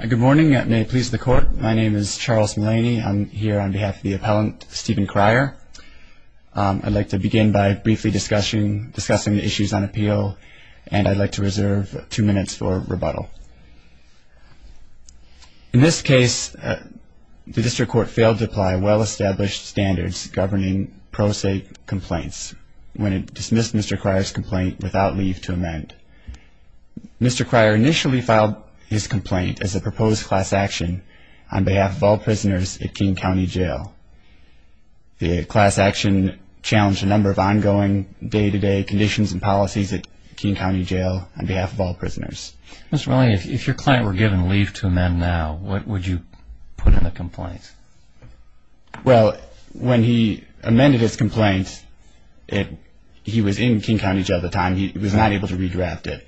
Good morning, and may it please the court, my name is Charles Mulaney. I'm here on behalf of the appellant, Stephen Krier. I'd like to begin by briefly discussing the issues on appeal, and I'd like to reserve two minutes for rebuttal. In this case, the district court failed to apply well-established standards governing pro se complaints when it dismissed Mr. Krier's complaint without leave to amend. Mr. Krier initially filed his complaint as a proposed class action on behalf of all prisoners at King County Jail. The class action challenged a number of ongoing day-to-day conditions and policies at King County Jail on behalf of all prisoners. Mr. Mulaney, if your client were given leave to amend now, what would you put in the complaint? Well, when he amended his complaint, he was in King County Jail at the time. He was not able to redraft it.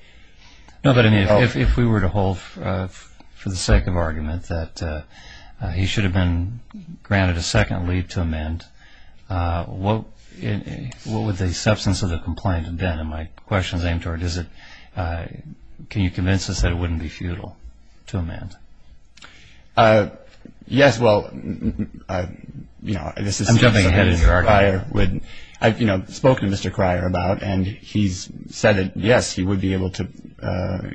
No, but if we were to hold for the sake of argument that he should have been granted a second leave to amend, what would the substance of the complaint have been? And my question is aimed toward, can you convince us that it wouldn't be futile to amend? Yes, well, I've spoken to Mr. Krier about, and he's said that, yes, he would be able to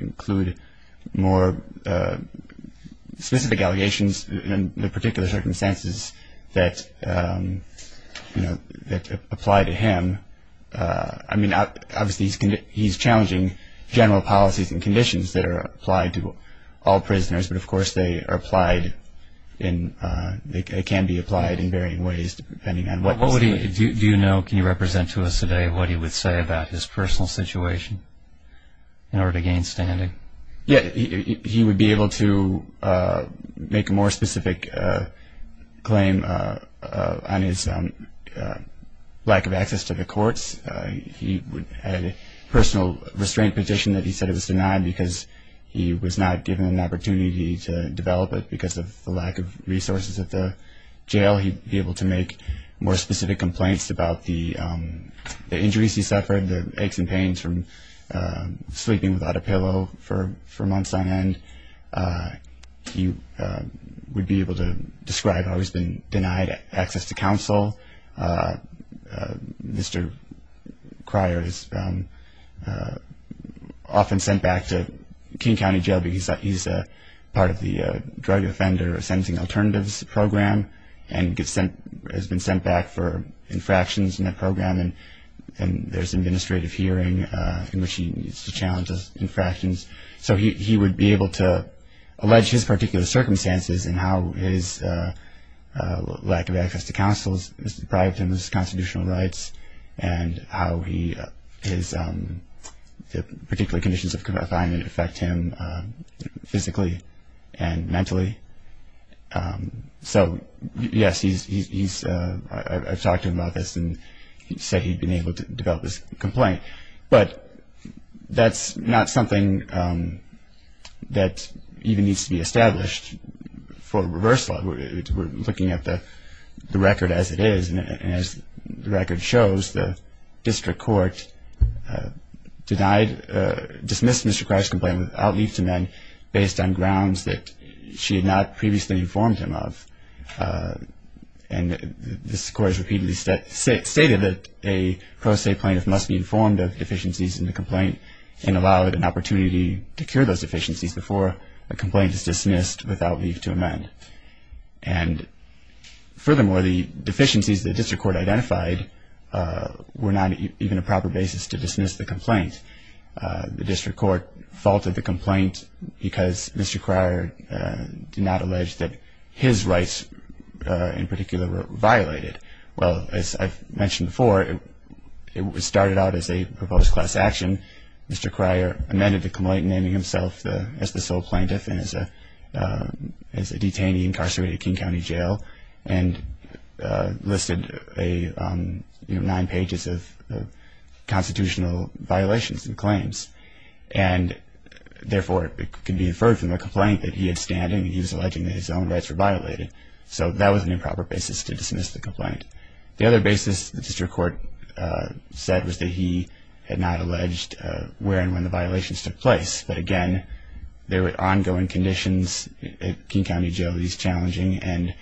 include more specific allegations in the particular circumstances that apply to him. I mean, obviously, he's challenging general policies and conditions that are applied to all prisoners, but, of course, they can be applied in varying ways depending on what was the case. Do you know, can you represent to us today what he would say about his personal situation in order to gain standing? Yes, he would be able to make a more specific claim on his lack of access to the courts. He had a personal restraint petition that he said was denied because he was not given an opportunity to develop it because of the lack of resources at the jail. He'd be able to make more specific complaints about the injuries he suffered, the aches and pains from sleeping without a pillow for months on end. He would be able to describe how he's been denied access to counsel. Mr. Krier is often sent back to King County Jail because he's part of the Drug Offender Sentencing Alternatives Program and has been sent back for infractions in that program, and there's an administrative hearing in which he needs to challenge those infractions. So he would be able to allege his particular circumstances and how his lack of access to counsel has deprived him of his constitutional rights and how his particular conditions of confinement affect him physically and mentally. So, yes, I've talked to him about this and said he'd been able to develop this complaint, but that's not something that even needs to be established for reversal. We're looking at the record as it is, and as the record shows, the district court dismissed Mr. Krier's complaint with outleaf to men based on grounds that she had not previously informed him of. And this court has repeatedly stated that a pro se plaintiff must be informed of deficiencies in the complaint and allow an opportunity to cure those deficiencies before a complaint is dismissed with outleaf to amend. And furthermore, the deficiencies the district court identified were not even a proper basis to dismiss the complaint. The district court faulted the complaint because Mr. Krier did not allege that his rights in particular were violated. Well, as I've mentioned before, it started out as a proposed class action. Mr. Krier amended the complaint naming himself as the sole plaintiff and as a detainee incarcerated at King County Jail and therefore it can be inferred from the complaint that he had standing and he was alleging that his own rights were violated. So that was an improper basis to dismiss the complaint. The other basis the district court said was that he had not alleged where and when the violations took place. But again, there were ongoing conditions at King County Jail that he's challenging and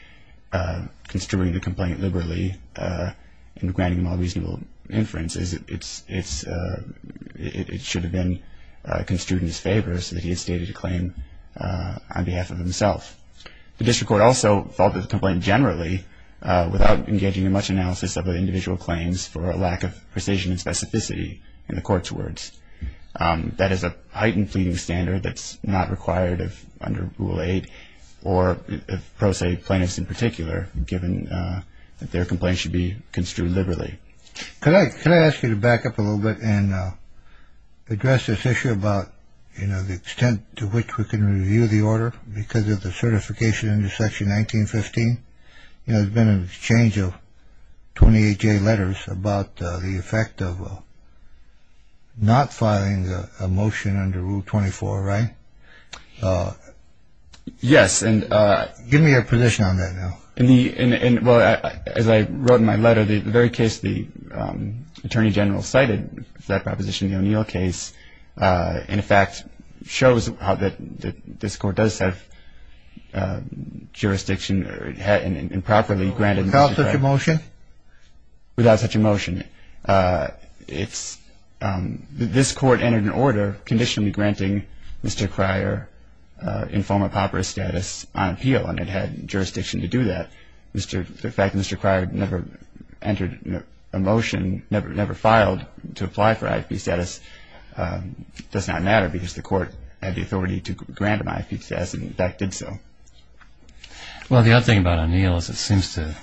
construing the complaint liberally and granting him all reasonable inferences, it should have been construed in his favor so that he had stated a claim on behalf of himself. The district court also faulted the complaint generally without engaging in much analysis of the individual claims for a lack of precision and specificity in the court's words. That is a heightened pleading standard that's not required under Rule 8 or pro se plaintiffs in particular given that their complaint should be construed liberally. Could I ask you to back up a little bit and address this issue about, you know, the extent to which we can review the order because of the certification under Section 1915? You know, there's been an exchange of 28-J letters about the effect of not filing a motion under Rule 24, right? Yes, and... Give me your position on that now. Well, as I wrote in my letter, the very case the Attorney General cited, that proposition in the O'Neill case, in effect shows that this court does have jurisdiction and properly granted... Without such a motion? Without such a motion. This court entered an order conditionally granting Mr. Cryer informal papyrus status on appeal and it had jurisdiction to do that. The fact that Mr. Cryer never entered a motion, never filed to apply for IFP status, does not matter because the court had the authority to grant him IFP status and in fact did so. Well, the other thing about O'Neill is it seems to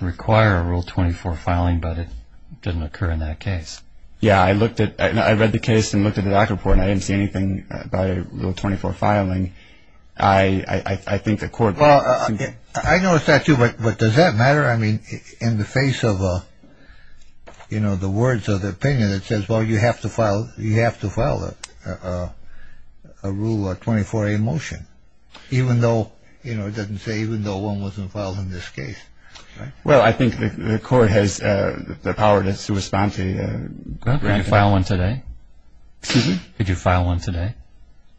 require a Rule 24 filing but it doesn't occur in that case. Yeah, I read the case and looked at the doc report and I didn't see anything by Rule 24 filing. I think the court... Well, I noticed that too but does that matter? I mean, in the face of, you know, the words of the opinion that says, well, you have to file a Rule 24A motion even though, you know, it doesn't say even though one wasn't filed in this case, right? Well, I think the court has the power to respond to... Could you file one today? Excuse me? Could you file one today?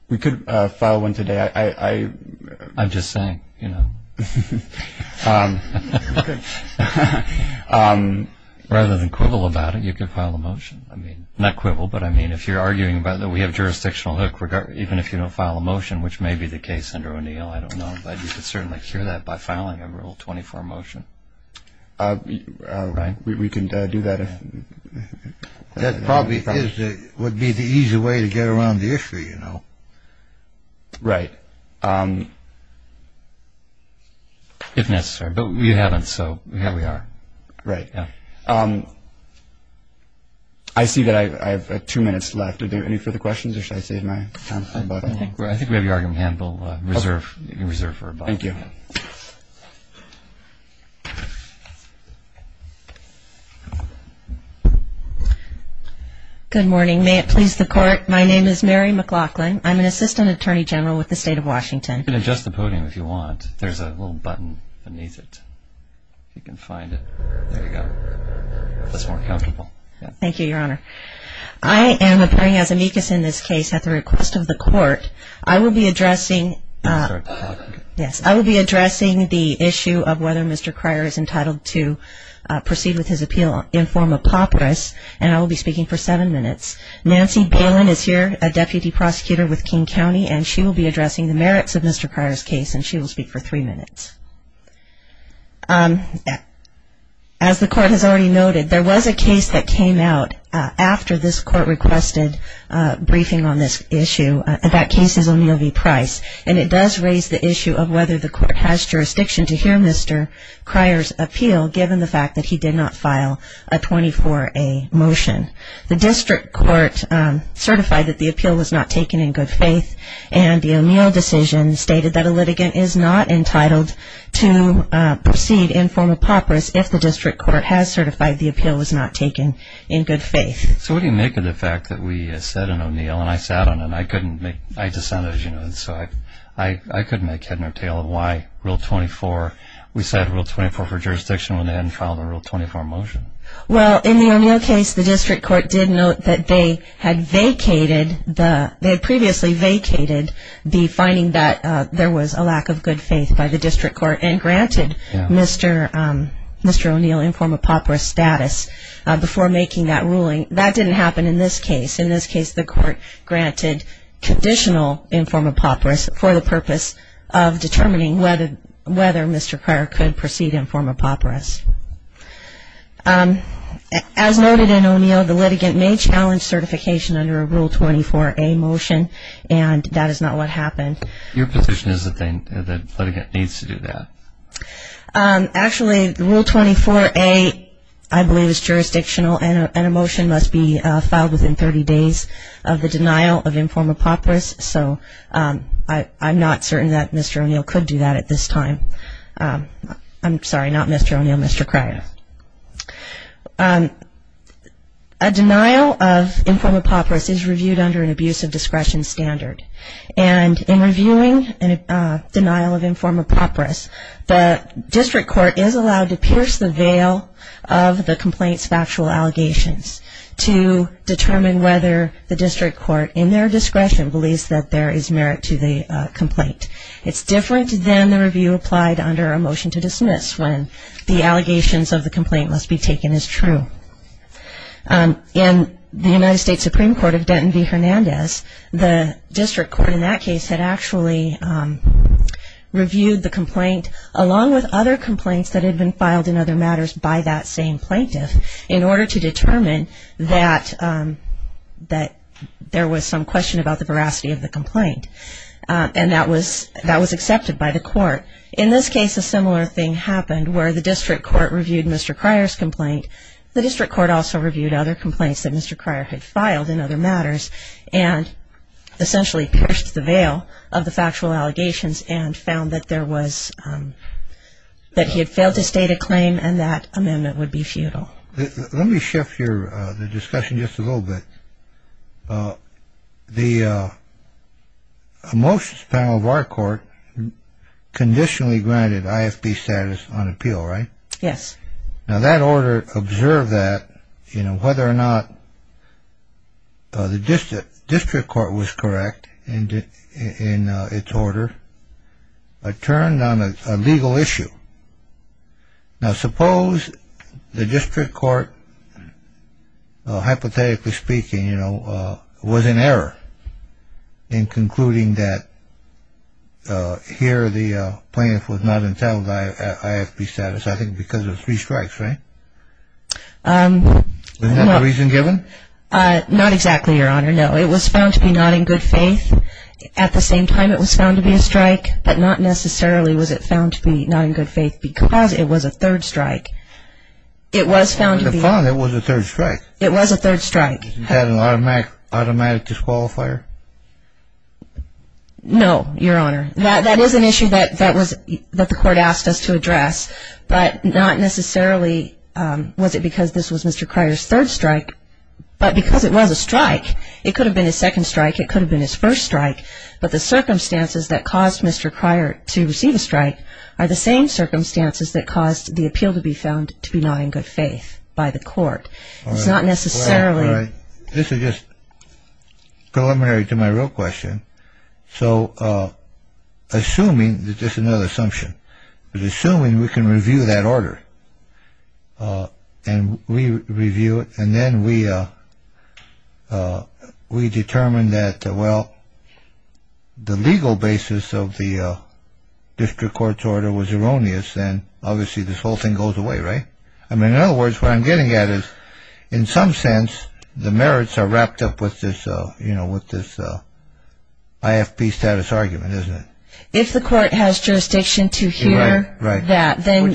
We could file one today. I... I'm just saying, you know. Rather than quibble about it, you could file a motion. I mean, not quibble, but I mean if you're arguing about that we have jurisdictional hook, even if you don't file a motion, which may be the case under O'Neill, I don't know, but you could certainly cure that by filing a Rule 24 motion. We can do that if... That probably would be the easy way to get around the issue, you know. Right. If necessary. But we haven't, so here we are. Right. Yeah. I see that I have two minutes left. Are there any further questions or should I save my time? I think we have your argument handled. You can reserve for a moment. Thank you. Good morning. May it please the Court, my name is Mary McLaughlin. I'm an Assistant Attorney General with the State of Washington. You can adjust the podium if you want. There's a little button beneath it if you can find it. There you go. That's more comfortable. Thank you, Your Honor. I am appearing as amicus in this case at the request of the Court. I will be addressing the issue of whether Mr. Cryer is entitled to proceed with his appeal in form of papyrus, and I will be speaking for seven minutes. Nancy Balin is here, a Deputy Prosecutor with King County, and she will be addressing the merits of Mr. Cryer's case, and she will speak for three minutes. As the Court has already noted, there was a case that came out after this Court requested briefing on this issue and that case is O'Neill v. Price, and it does raise the issue of whether the Court has jurisdiction to hear Mr. Cryer's appeal, given the fact that he did not file a 24A motion. The District Court certified that the appeal was not taken in good faith, and the O'Neill decision stated that a litigant is not entitled to proceed in form of papyrus if the District Court has certified the appeal was not taken in good faith. So what do you make of the fact that we said in O'Neill, and I sat on it, and I couldn't make head nor tail of why Rule 24, we said Rule 24 for jurisdiction when they hadn't filed a Rule 24 motion? Well, in the O'Neill case, the District Court did note that they had vacated, they had previously vacated the finding that there was a lack of good faith by the District Court and granted Mr. O'Neill in form of papyrus status before making that ruling. That didn't happen in this case. In this case, the Court granted conditional in form of papyrus for the purpose of determining whether Mr. Cryer could proceed in form of papyrus. As noted in O'Neill, the litigant may challenge certification under a Rule 24A motion, and that is not what happened. Your position is that the litigant needs to do that? Actually, Rule 24A, I believe, is jurisdictional, and a motion must be filed within 30 days of the denial of in form of papyrus. So I'm not certain that Mr. O'Neill could do that at this time. I'm sorry, not Mr. O'Neill, Mr. Cryer. A denial of in form of papyrus is reviewed under an abuse of discretion standard, and in reviewing a denial of in form of papyrus, the District Court is allowed to pierce the veil of the complaint's factual allegations to determine whether the District Court, in their discretion, believes that there is merit to the complaint. It's different than the review applied under a motion to dismiss when the allegations of the complaint must be taken as true. In the United States Supreme Court of Denton v. Hernandez, the District Court in that case had actually reviewed the complaint, along with other complaints that had been filed in other matters by that same plaintiff, in order to determine that there was some question about the veracity of the complaint, and that was accepted by the court. In this case, a similar thing happened where the District Court reviewed Mr. Cryer's complaint. The District Court also reviewed other complaints that Mr. Cryer had filed in other matters, and essentially pierced the veil of the factual allegations and found that he had failed to state a claim and that amendment would be futile. Let me shift the discussion just a little bit. The motions panel of our court conditionally granted IFB status on appeal, right? Yes. Now, that order observed that, you know, whether or not the District Court was correct in its order, but turned on a legal issue. Now, suppose the District Court, hypothetically speaking, you know, was in error in concluding that here the plaintiff was not entitled to IFB status, I think because of three strikes, right? Was that the reason given? Not exactly, Your Honor. No. It was found to be not in good faith. At the same time, it was found to be a strike, but not necessarily was it found to be not in good faith because it was a third strike. It was found to be a strike. It was a third strike. It was a third strike. Was it an automatic disqualifier? No, Your Honor. That is an issue that the court asked us to address, but not necessarily was it because this was Mr. Cryer's third strike, but because it was a strike. It could have been his second strike. It could have been his first strike. But the circumstances that caused Mr. Cryer to receive a strike are the same circumstances that caused the appeal to be found to be not in good faith by the court. It's not necessarily This is just preliminary to my real question. So assuming, this is just another assumption, but assuming we can review that order and we review it and then we determine that, well, the legal basis of the district court's order was erroneous and obviously this whole thing goes away, right? I mean, in other words, what I'm getting at is, in some sense, the merits are wrapped up with this IFP status argument, isn't it? If the court has jurisdiction to hear that, then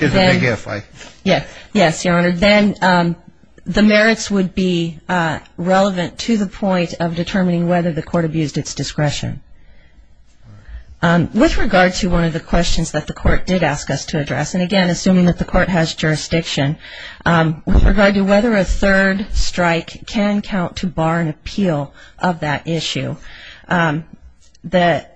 the merits would be relevant to the point of determining whether the court abused its discretion. With regard to one of the questions that the court did ask us to address, and again, assuming that the court has jurisdiction, with regard to whether a third strike can count to bar an appeal of that issue, the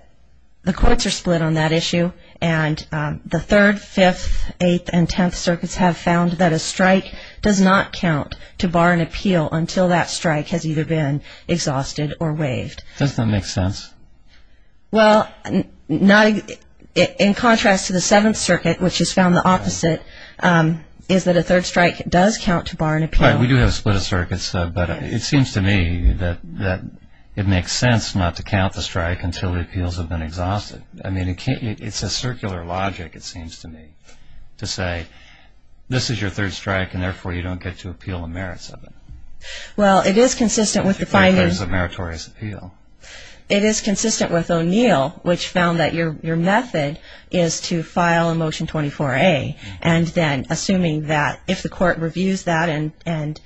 courts are split on that issue, and the 3rd, 5th, 8th, and 10th circuits have found that a strike does not count to bar an appeal until that strike has either been exhausted or waived. Does that make sense? Well, in contrast to the 7th circuit, which has found the opposite, is that a third strike does count to bar an appeal. Right, we do have a split of circuits, though, but it seems to me that it makes sense not to count the strike until the appeals have been exhausted. I mean, it's a circular logic, it seems to me, to say, this is your 3rd strike and therefore you don't get to appeal the merits of it. Well, it is consistent with the findings... ...of meritorious appeal. It is consistent with O'Neill, which found that your method is to file a Motion 24A, and then assuming that if the court reviews that and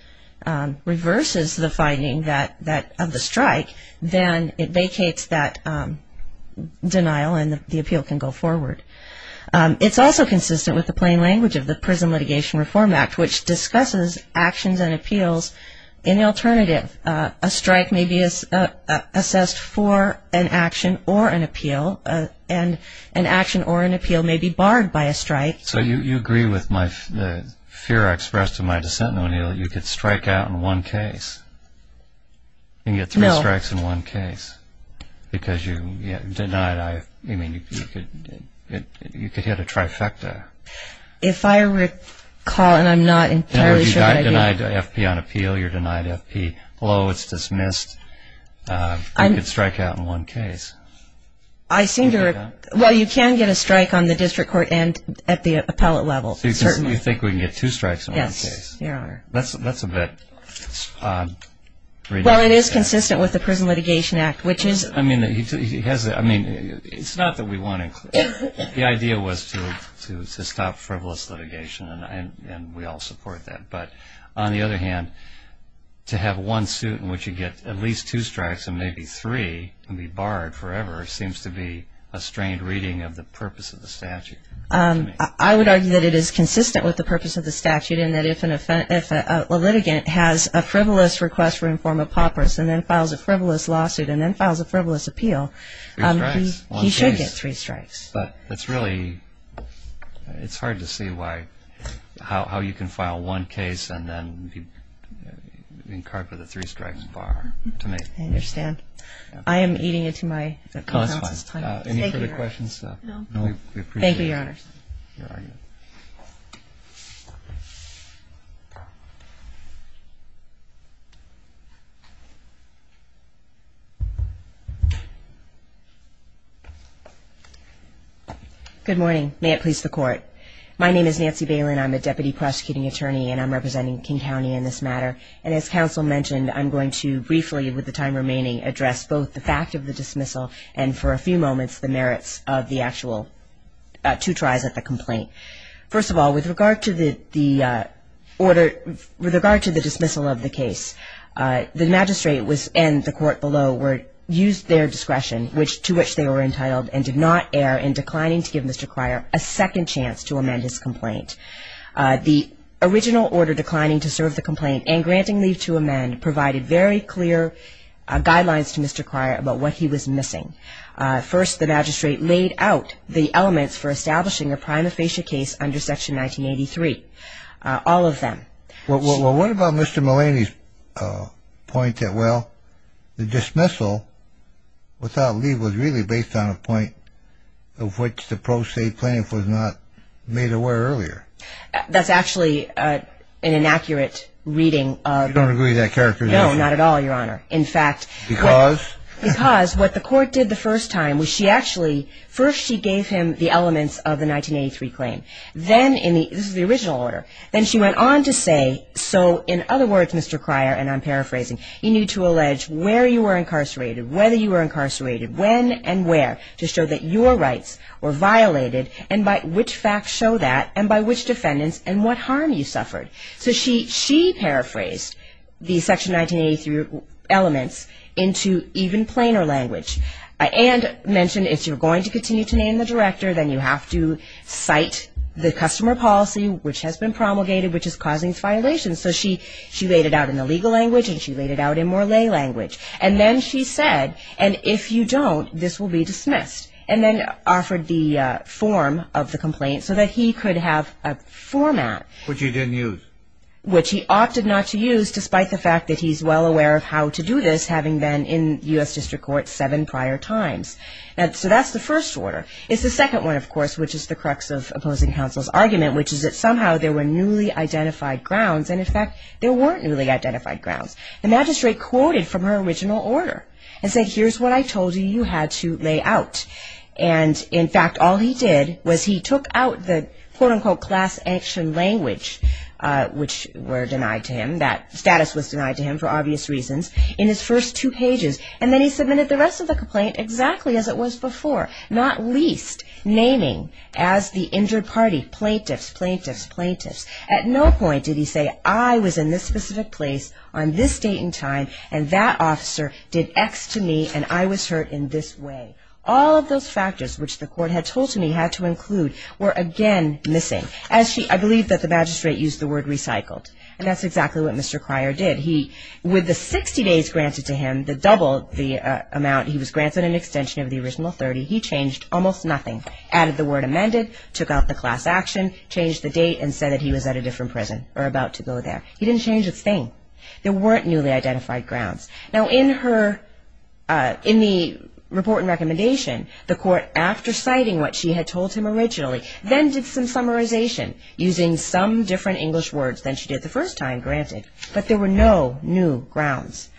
reverses the finding of the strike, then it vacates that denial and the appeal can go forward. It's also consistent with the plain language of the Prison Litigation Reform Act, which discusses actions and appeals in the alternative. A strike may be assessed for an action or an appeal, and an action or an appeal may be barred by a strike. So you agree with the fear I expressed to my dissent in O'Neill, that you could strike out in one case and get three strikes in one case, because you could hit a trifecta. If I recall, and I'm not entirely sure... You're denied FP on appeal, you're denied FP. Hello, it's dismissed. You could strike out in one case. I seem to... Well, you can get a strike on the district court and at the appellate level, certainly. So you think we can get two strikes in one case? Yes, you are. That's a bit... Well, it is consistent with the Prison Litigation Act, which is... I mean, it's not that we want to... The idea was to stop frivolous litigation, and we all support that. But on the other hand, to have one suit in which you get at least two strikes and maybe three and be barred forever seems to be a strained reading of the purpose of the statute. I would argue that it is consistent with the purpose of the statute, in that if a litigant has a frivolous request for informal paupers and then files a frivolous lawsuit and then files a frivolous appeal... Three strikes, one case. But it's really... It's hard to see how you can file one case and then be incarcerated with a three-strike bar. I understand. I am eating into my... No, that's fine. Any further questions? No. Thank you, Your Honor. Your argument. Good morning. May it please the Court. My name is Nancy Bailyn. I'm a deputy prosecuting attorney, and I'm representing King County in this matter. And as counsel mentioned, I'm going to briefly, with the time remaining, address both the fact of the dismissal and, for a few moments, the merits of the actual two tries at the complaint. First of all, with regard to the order... With regard to the dismissal of the case, the magistrate and the court below used their discretion, to which they were entitled, and did not err in declining to give Mr. Cryer a second chance to amend his complaint. The original order declining to serve the complaint and granting leave to amend provided very clear guidelines to Mr. Cryer about what he was missing. First, the magistrate laid out the elements for establishing a prima facie case under Section 1983, all of them. Well, what about Mr. Mulaney's point that, well, the dismissal without leave was really based on a point of which the pro se plaintiff was not made aware earlier? That's actually an inaccurate reading of... You don't agree with that characterization? No, not at all, Your Honor. In fact... Because? Because what the court did the first time was she actually... First, she gave him the elements of the 1983 claim. Then in the... This is the original order. Then she went on to say, so in other words, Mr. Cryer, and I'm paraphrasing, you need to allege where you were incarcerated, whether you were incarcerated, when and where, to show that your rights were violated and by which facts show that and by which defendants and what harm you suffered. So she paraphrased the Section 1983 elements into even plainer language and mentioned if you're going to continue to name the director, then you have to cite the customer policy which has been promulgated, which is causing violations. So she laid it out in the legal language and she laid it out in more lay language. And then she said, and if you don't, this will be dismissed, and then offered the form of the complaint so that he could have a format... Which he didn't use. Which he opted not to use, despite the fact that he's well aware of how to do this, having been in U.S. District Court seven prior times. So that's the first order. It's the second one, of course, which is the crux of opposing counsel's argument, which is that somehow there were newly identified grounds, and in fact, there weren't newly identified grounds. The magistrate quoted from her original order and said, here's what I told you you had to lay out. And in fact, all he did was he took out the quote-unquote class action language, which were denied to him, that status was denied to him for obvious reasons, in his first two pages. And then he submitted the rest of the complaint exactly as it was before, not least naming as the injured party plaintiffs, plaintiffs, plaintiffs. At no point did he say, I was in this specific place on this date and time, and that officer did X to me and I was hurt in this way. All of those factors, which the court had told him he had to include, were again missing. I believe that the magistrate used the word recycled. And that's exactly what Mr. Cryer did. He, with the 60 days granted to him, the double, the amount, he was granted an extension of the original 30, he changed almost nothing, added the word amended, took out the class action, changed the date and said that he was at a different prison or about to go there. He didn't change a thing. There weren't newly identified grounds. Now, in her, in the report and recommendation, the court, after citing what she had told him originally, then did some summarization using some different English words than she did the first time, granted. But there were no new grounds.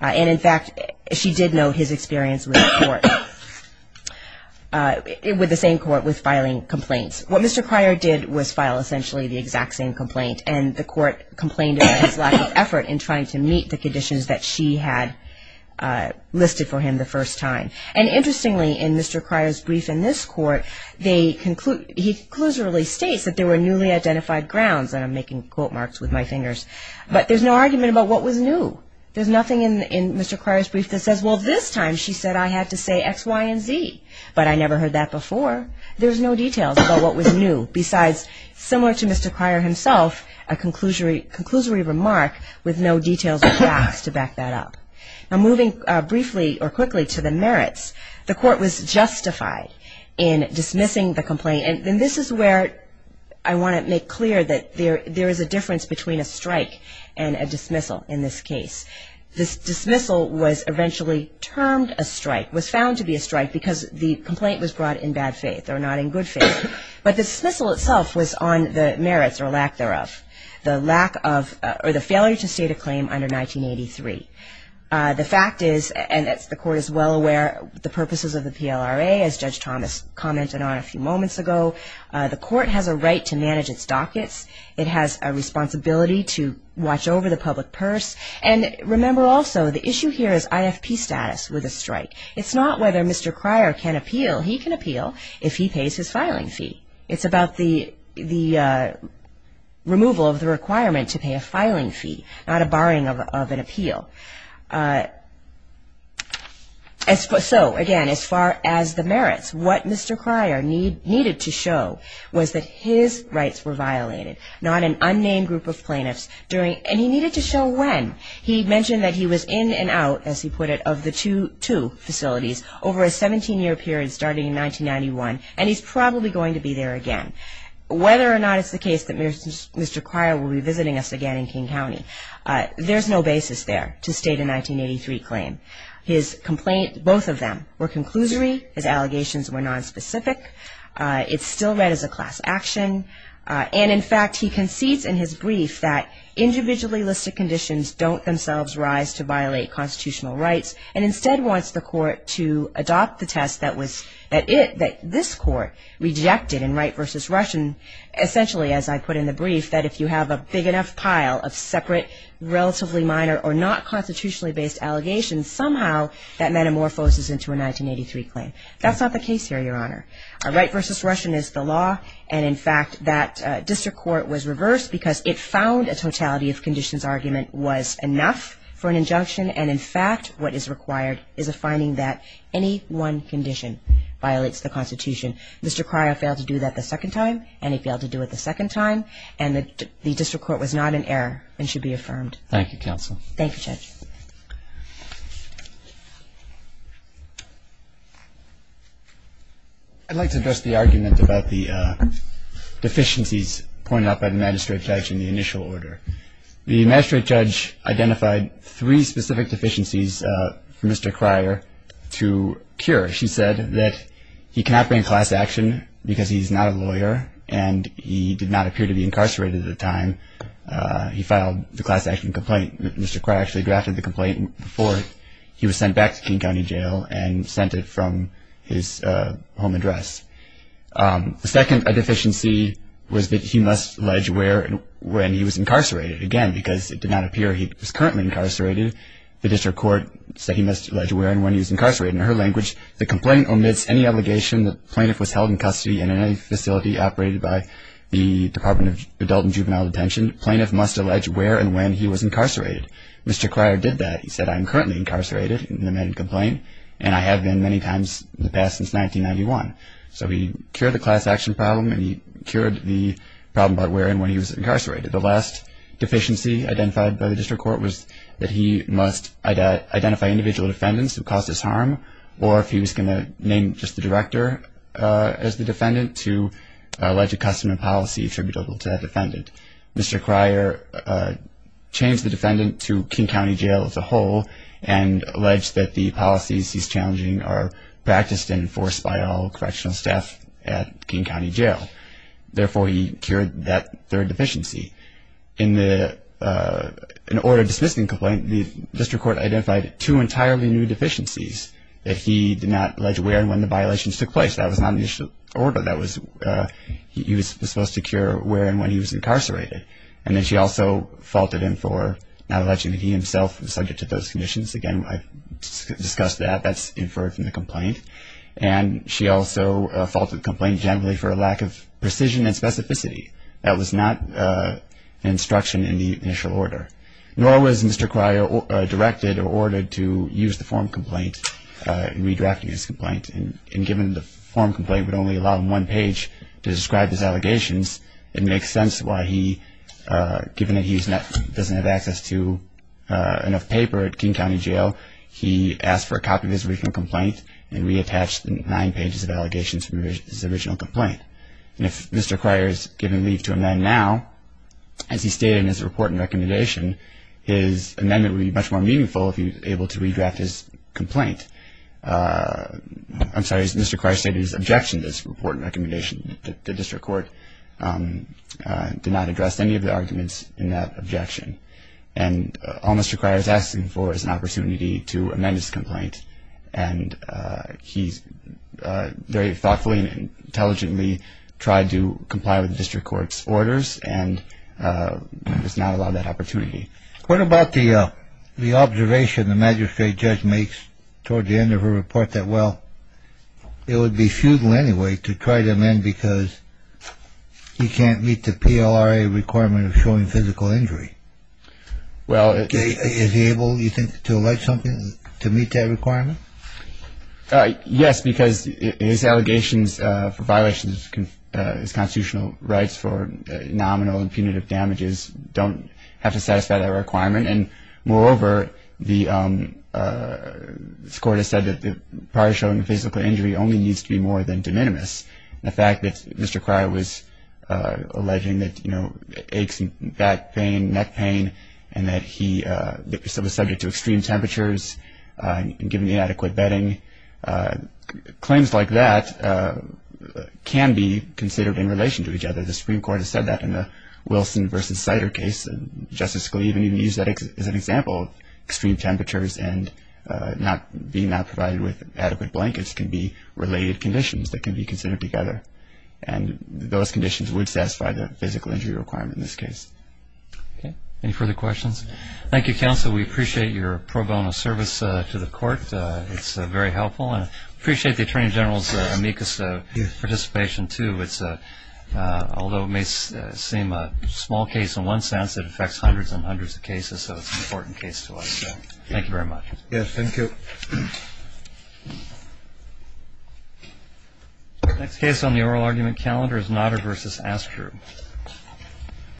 And, in fact, she did note his experience with the court, with the same court, with filing complaints. What Mr. Cryer did was file essentially the exact same complaint, and the court complained about his lack of effort in trying to meet the conditions that she had listed for him the first time. And interestingly, in Mr. Cryer's brief in this court, he conclusively states that there were newly identified grounds, and I'm making quote marks with my fingers, but there's no argument about what was new. There's nothing in Mr. Cryer's brief that says, well, this time she said I had to say X, Y, and Z. But I never heard that before. There's no details about what was new, besides, similar to Mr. Cryer himself, a conclusory remark with no details or facts to back that up. Now, moving briefly or quickly to the merits, the court was justified in dismissing the complaint. And this is where I want to make clear that there is a difference between a strike and a dismissal in this case. This dismissal was eventually termed a strike, was found to be a strike, because the complaint was brought in bad faith or not in good faith. But the dismissal itself was on the merits or lack thereof, the lack of or the failure to state a claim under 1983. The fact is, and the court is well aware of the purposes of the PLRA, as Judge Thomas commented on a few moments ago, the court has a right to manage its dockets. It has a responsibility to watch over the public purse. And remember also, the issue here is IFP status with a strike. It's not whether Mr. Cryer can appeal. He can appeal if he pays his filing fee. It's about the removal of the requirement to pay a filing fee, not a barring of an appeal. So, again, as far as the merits, what Mr. Cryer needed to show was that his rights were violated, not an unnamed group of plaintiffs. And he needed to show when. He mentioned that he was in and out, as he put it, of the two facilities over a 17-year period starting in 1991. And he's probably going to be there again. Whether or not it's the case that Mr. Cryer will be visiting us again in King County, there's no basis there to state a 1983 claim. His complaint, both of them, were conclusory. His allegations were nonspecific. It's still read as a class action. And, in fact, he concedes in his brief that individually listed conditions don't themselves rise to violate constitutional rights and instead wants the court to adopt the test that this court rejected in Wright v. Russian, essentially, as I put in the brief, that if you have a big enough pile of separate, relatively minor or not constitutionally based allegations, somehow that metamorphoses into a 1983 claim. That's not the case here, Your Honor. Wright v. Russian is the law. And, in fact, that district court was reversed because it found a totality of conditions argument was enough for an injunction. And, in fact, what is required is a finding that any one condition violates the Constitution. Mr. Cryer failed to do that the second time. And he failed to do it the second time. And the district court was not in error and should be affirmed. Thank you, counsel. Thank you, Judge. I'd like to address the argument about the deficiencies pointed out by the magistrate judge in the initial order. The magistrate judge identified three specific deficiencies for Mr. Cryer to cure. She said that he cannot bring class action because he's not a lawyer and he did not appear to be incarcerated at the time. He filed the class action complaint. Mr. Cryer actually drafted the complaint before he was sent back to King County Jail and sent it from his home address. The second deficiency was that he must allege where and when he was incarcerated. Again, because it did not appear he was currently incarcerated, the district court said he must allege where and when he was incarcerated. In her language, the complaint omits any allegation that the plaintiff was held in custody in any facility operated by the Department of Adult and Juvenile Detention. The plaintiff must allege where and when he was incarcerated. Mr. Cryer did that. He said, I'm currently incarcerated in the man complaint and I have been many times in the past since 1991. So he cured the class action problem and he cured the problem about where and when he was incarcerated. The last deficiency identified by the district court was that he must identify individual defendants who caused his harm or if he was going to name just the director as the defendant to allege a custom and policy attributable to that defendant. Mr. Cryer changed the defendant to King County Jail as a whole and alleged that the policies he's challenging are practiced and enforced by all correctional staff at King County Jail. Therefore, he cured that third deficiency. In the order of dismissing the complaint, the district court identified two entirely new deficiencies that he did not allege where and when the violations took place. That was not in the initial order. That was he was supposed to cure where and when he was incarcerated. And then she also faulted him for not alleging that he himself was subject to those conditions. Again, I discussed that. That's inferred from the complaint. And she also faulted the complaint generally for a lack of precision and specificity. That was not an instruction in the initial order. Nor was Mr. Cryer directed or ordered to use the form complaint in redirecting his complaint. And given the form complaint would only allow him one page to describe his allegations, it makes sense why he, given that he doesn't have access to enough paper at King County Jail, he asked for a copy of his original complaint and reattached nine pages of allegations from his original complaint. And if Mr. Cryer is given leave to amend now, as he stated in his report and recommendation, his amendment would be much more meaningful if he was able to redraft his complaint. I'm sorry. Mr. Cryer stated his objection to this report and recommendation. The district court did not address any of the arguments in that objection. And all Mr. Cryer is asking for is an opportunity to amend his complaint. And he very thoughtfully and intelligently tried to comply with the district court's orders, and was not allowed that opportunity. What about the observation the magistrate judge makes toward the end of her report that, well, it would be futile anyway to try to amend because he can't meet the PLRA requirement of showing physical injury? Is he able, do you think, to allege something to meet that requirement? Yes, because his allegations for violations of his constitutional rights for nominal and punitive damages don't have to satisfy that requirement. And, moreover, the court has said that the prior showing of physical injury only needs to be more than de minimis. The fact that Mr. Cryer was alleging that, you know, aches and back pain, neck pain, and that he was subject to extreme temperatures and given inadequate bedding, claims like that can be considered in relation to each other. The Supreme Court has said that in the Wilson v. Sider case. Justice Scalia even used that as an example of extreme temperatures and being not provided with adequate blankets can be related conditions that can be considered together. And those conditions would satisfy the physical injury requirement in this case. Any further questions? Thank you, counsel. We appreciate your pro bono service to the court. It's very helpful. And I appreciate the Attorney General's amicus participation, too. Although it may seem a small case in one sense, it affects hundreds and hundreds of cases, so it's an important case to us. Thank you very much. Yes, thank you. Next case on the oral argument calendar is Nodder v. Astru.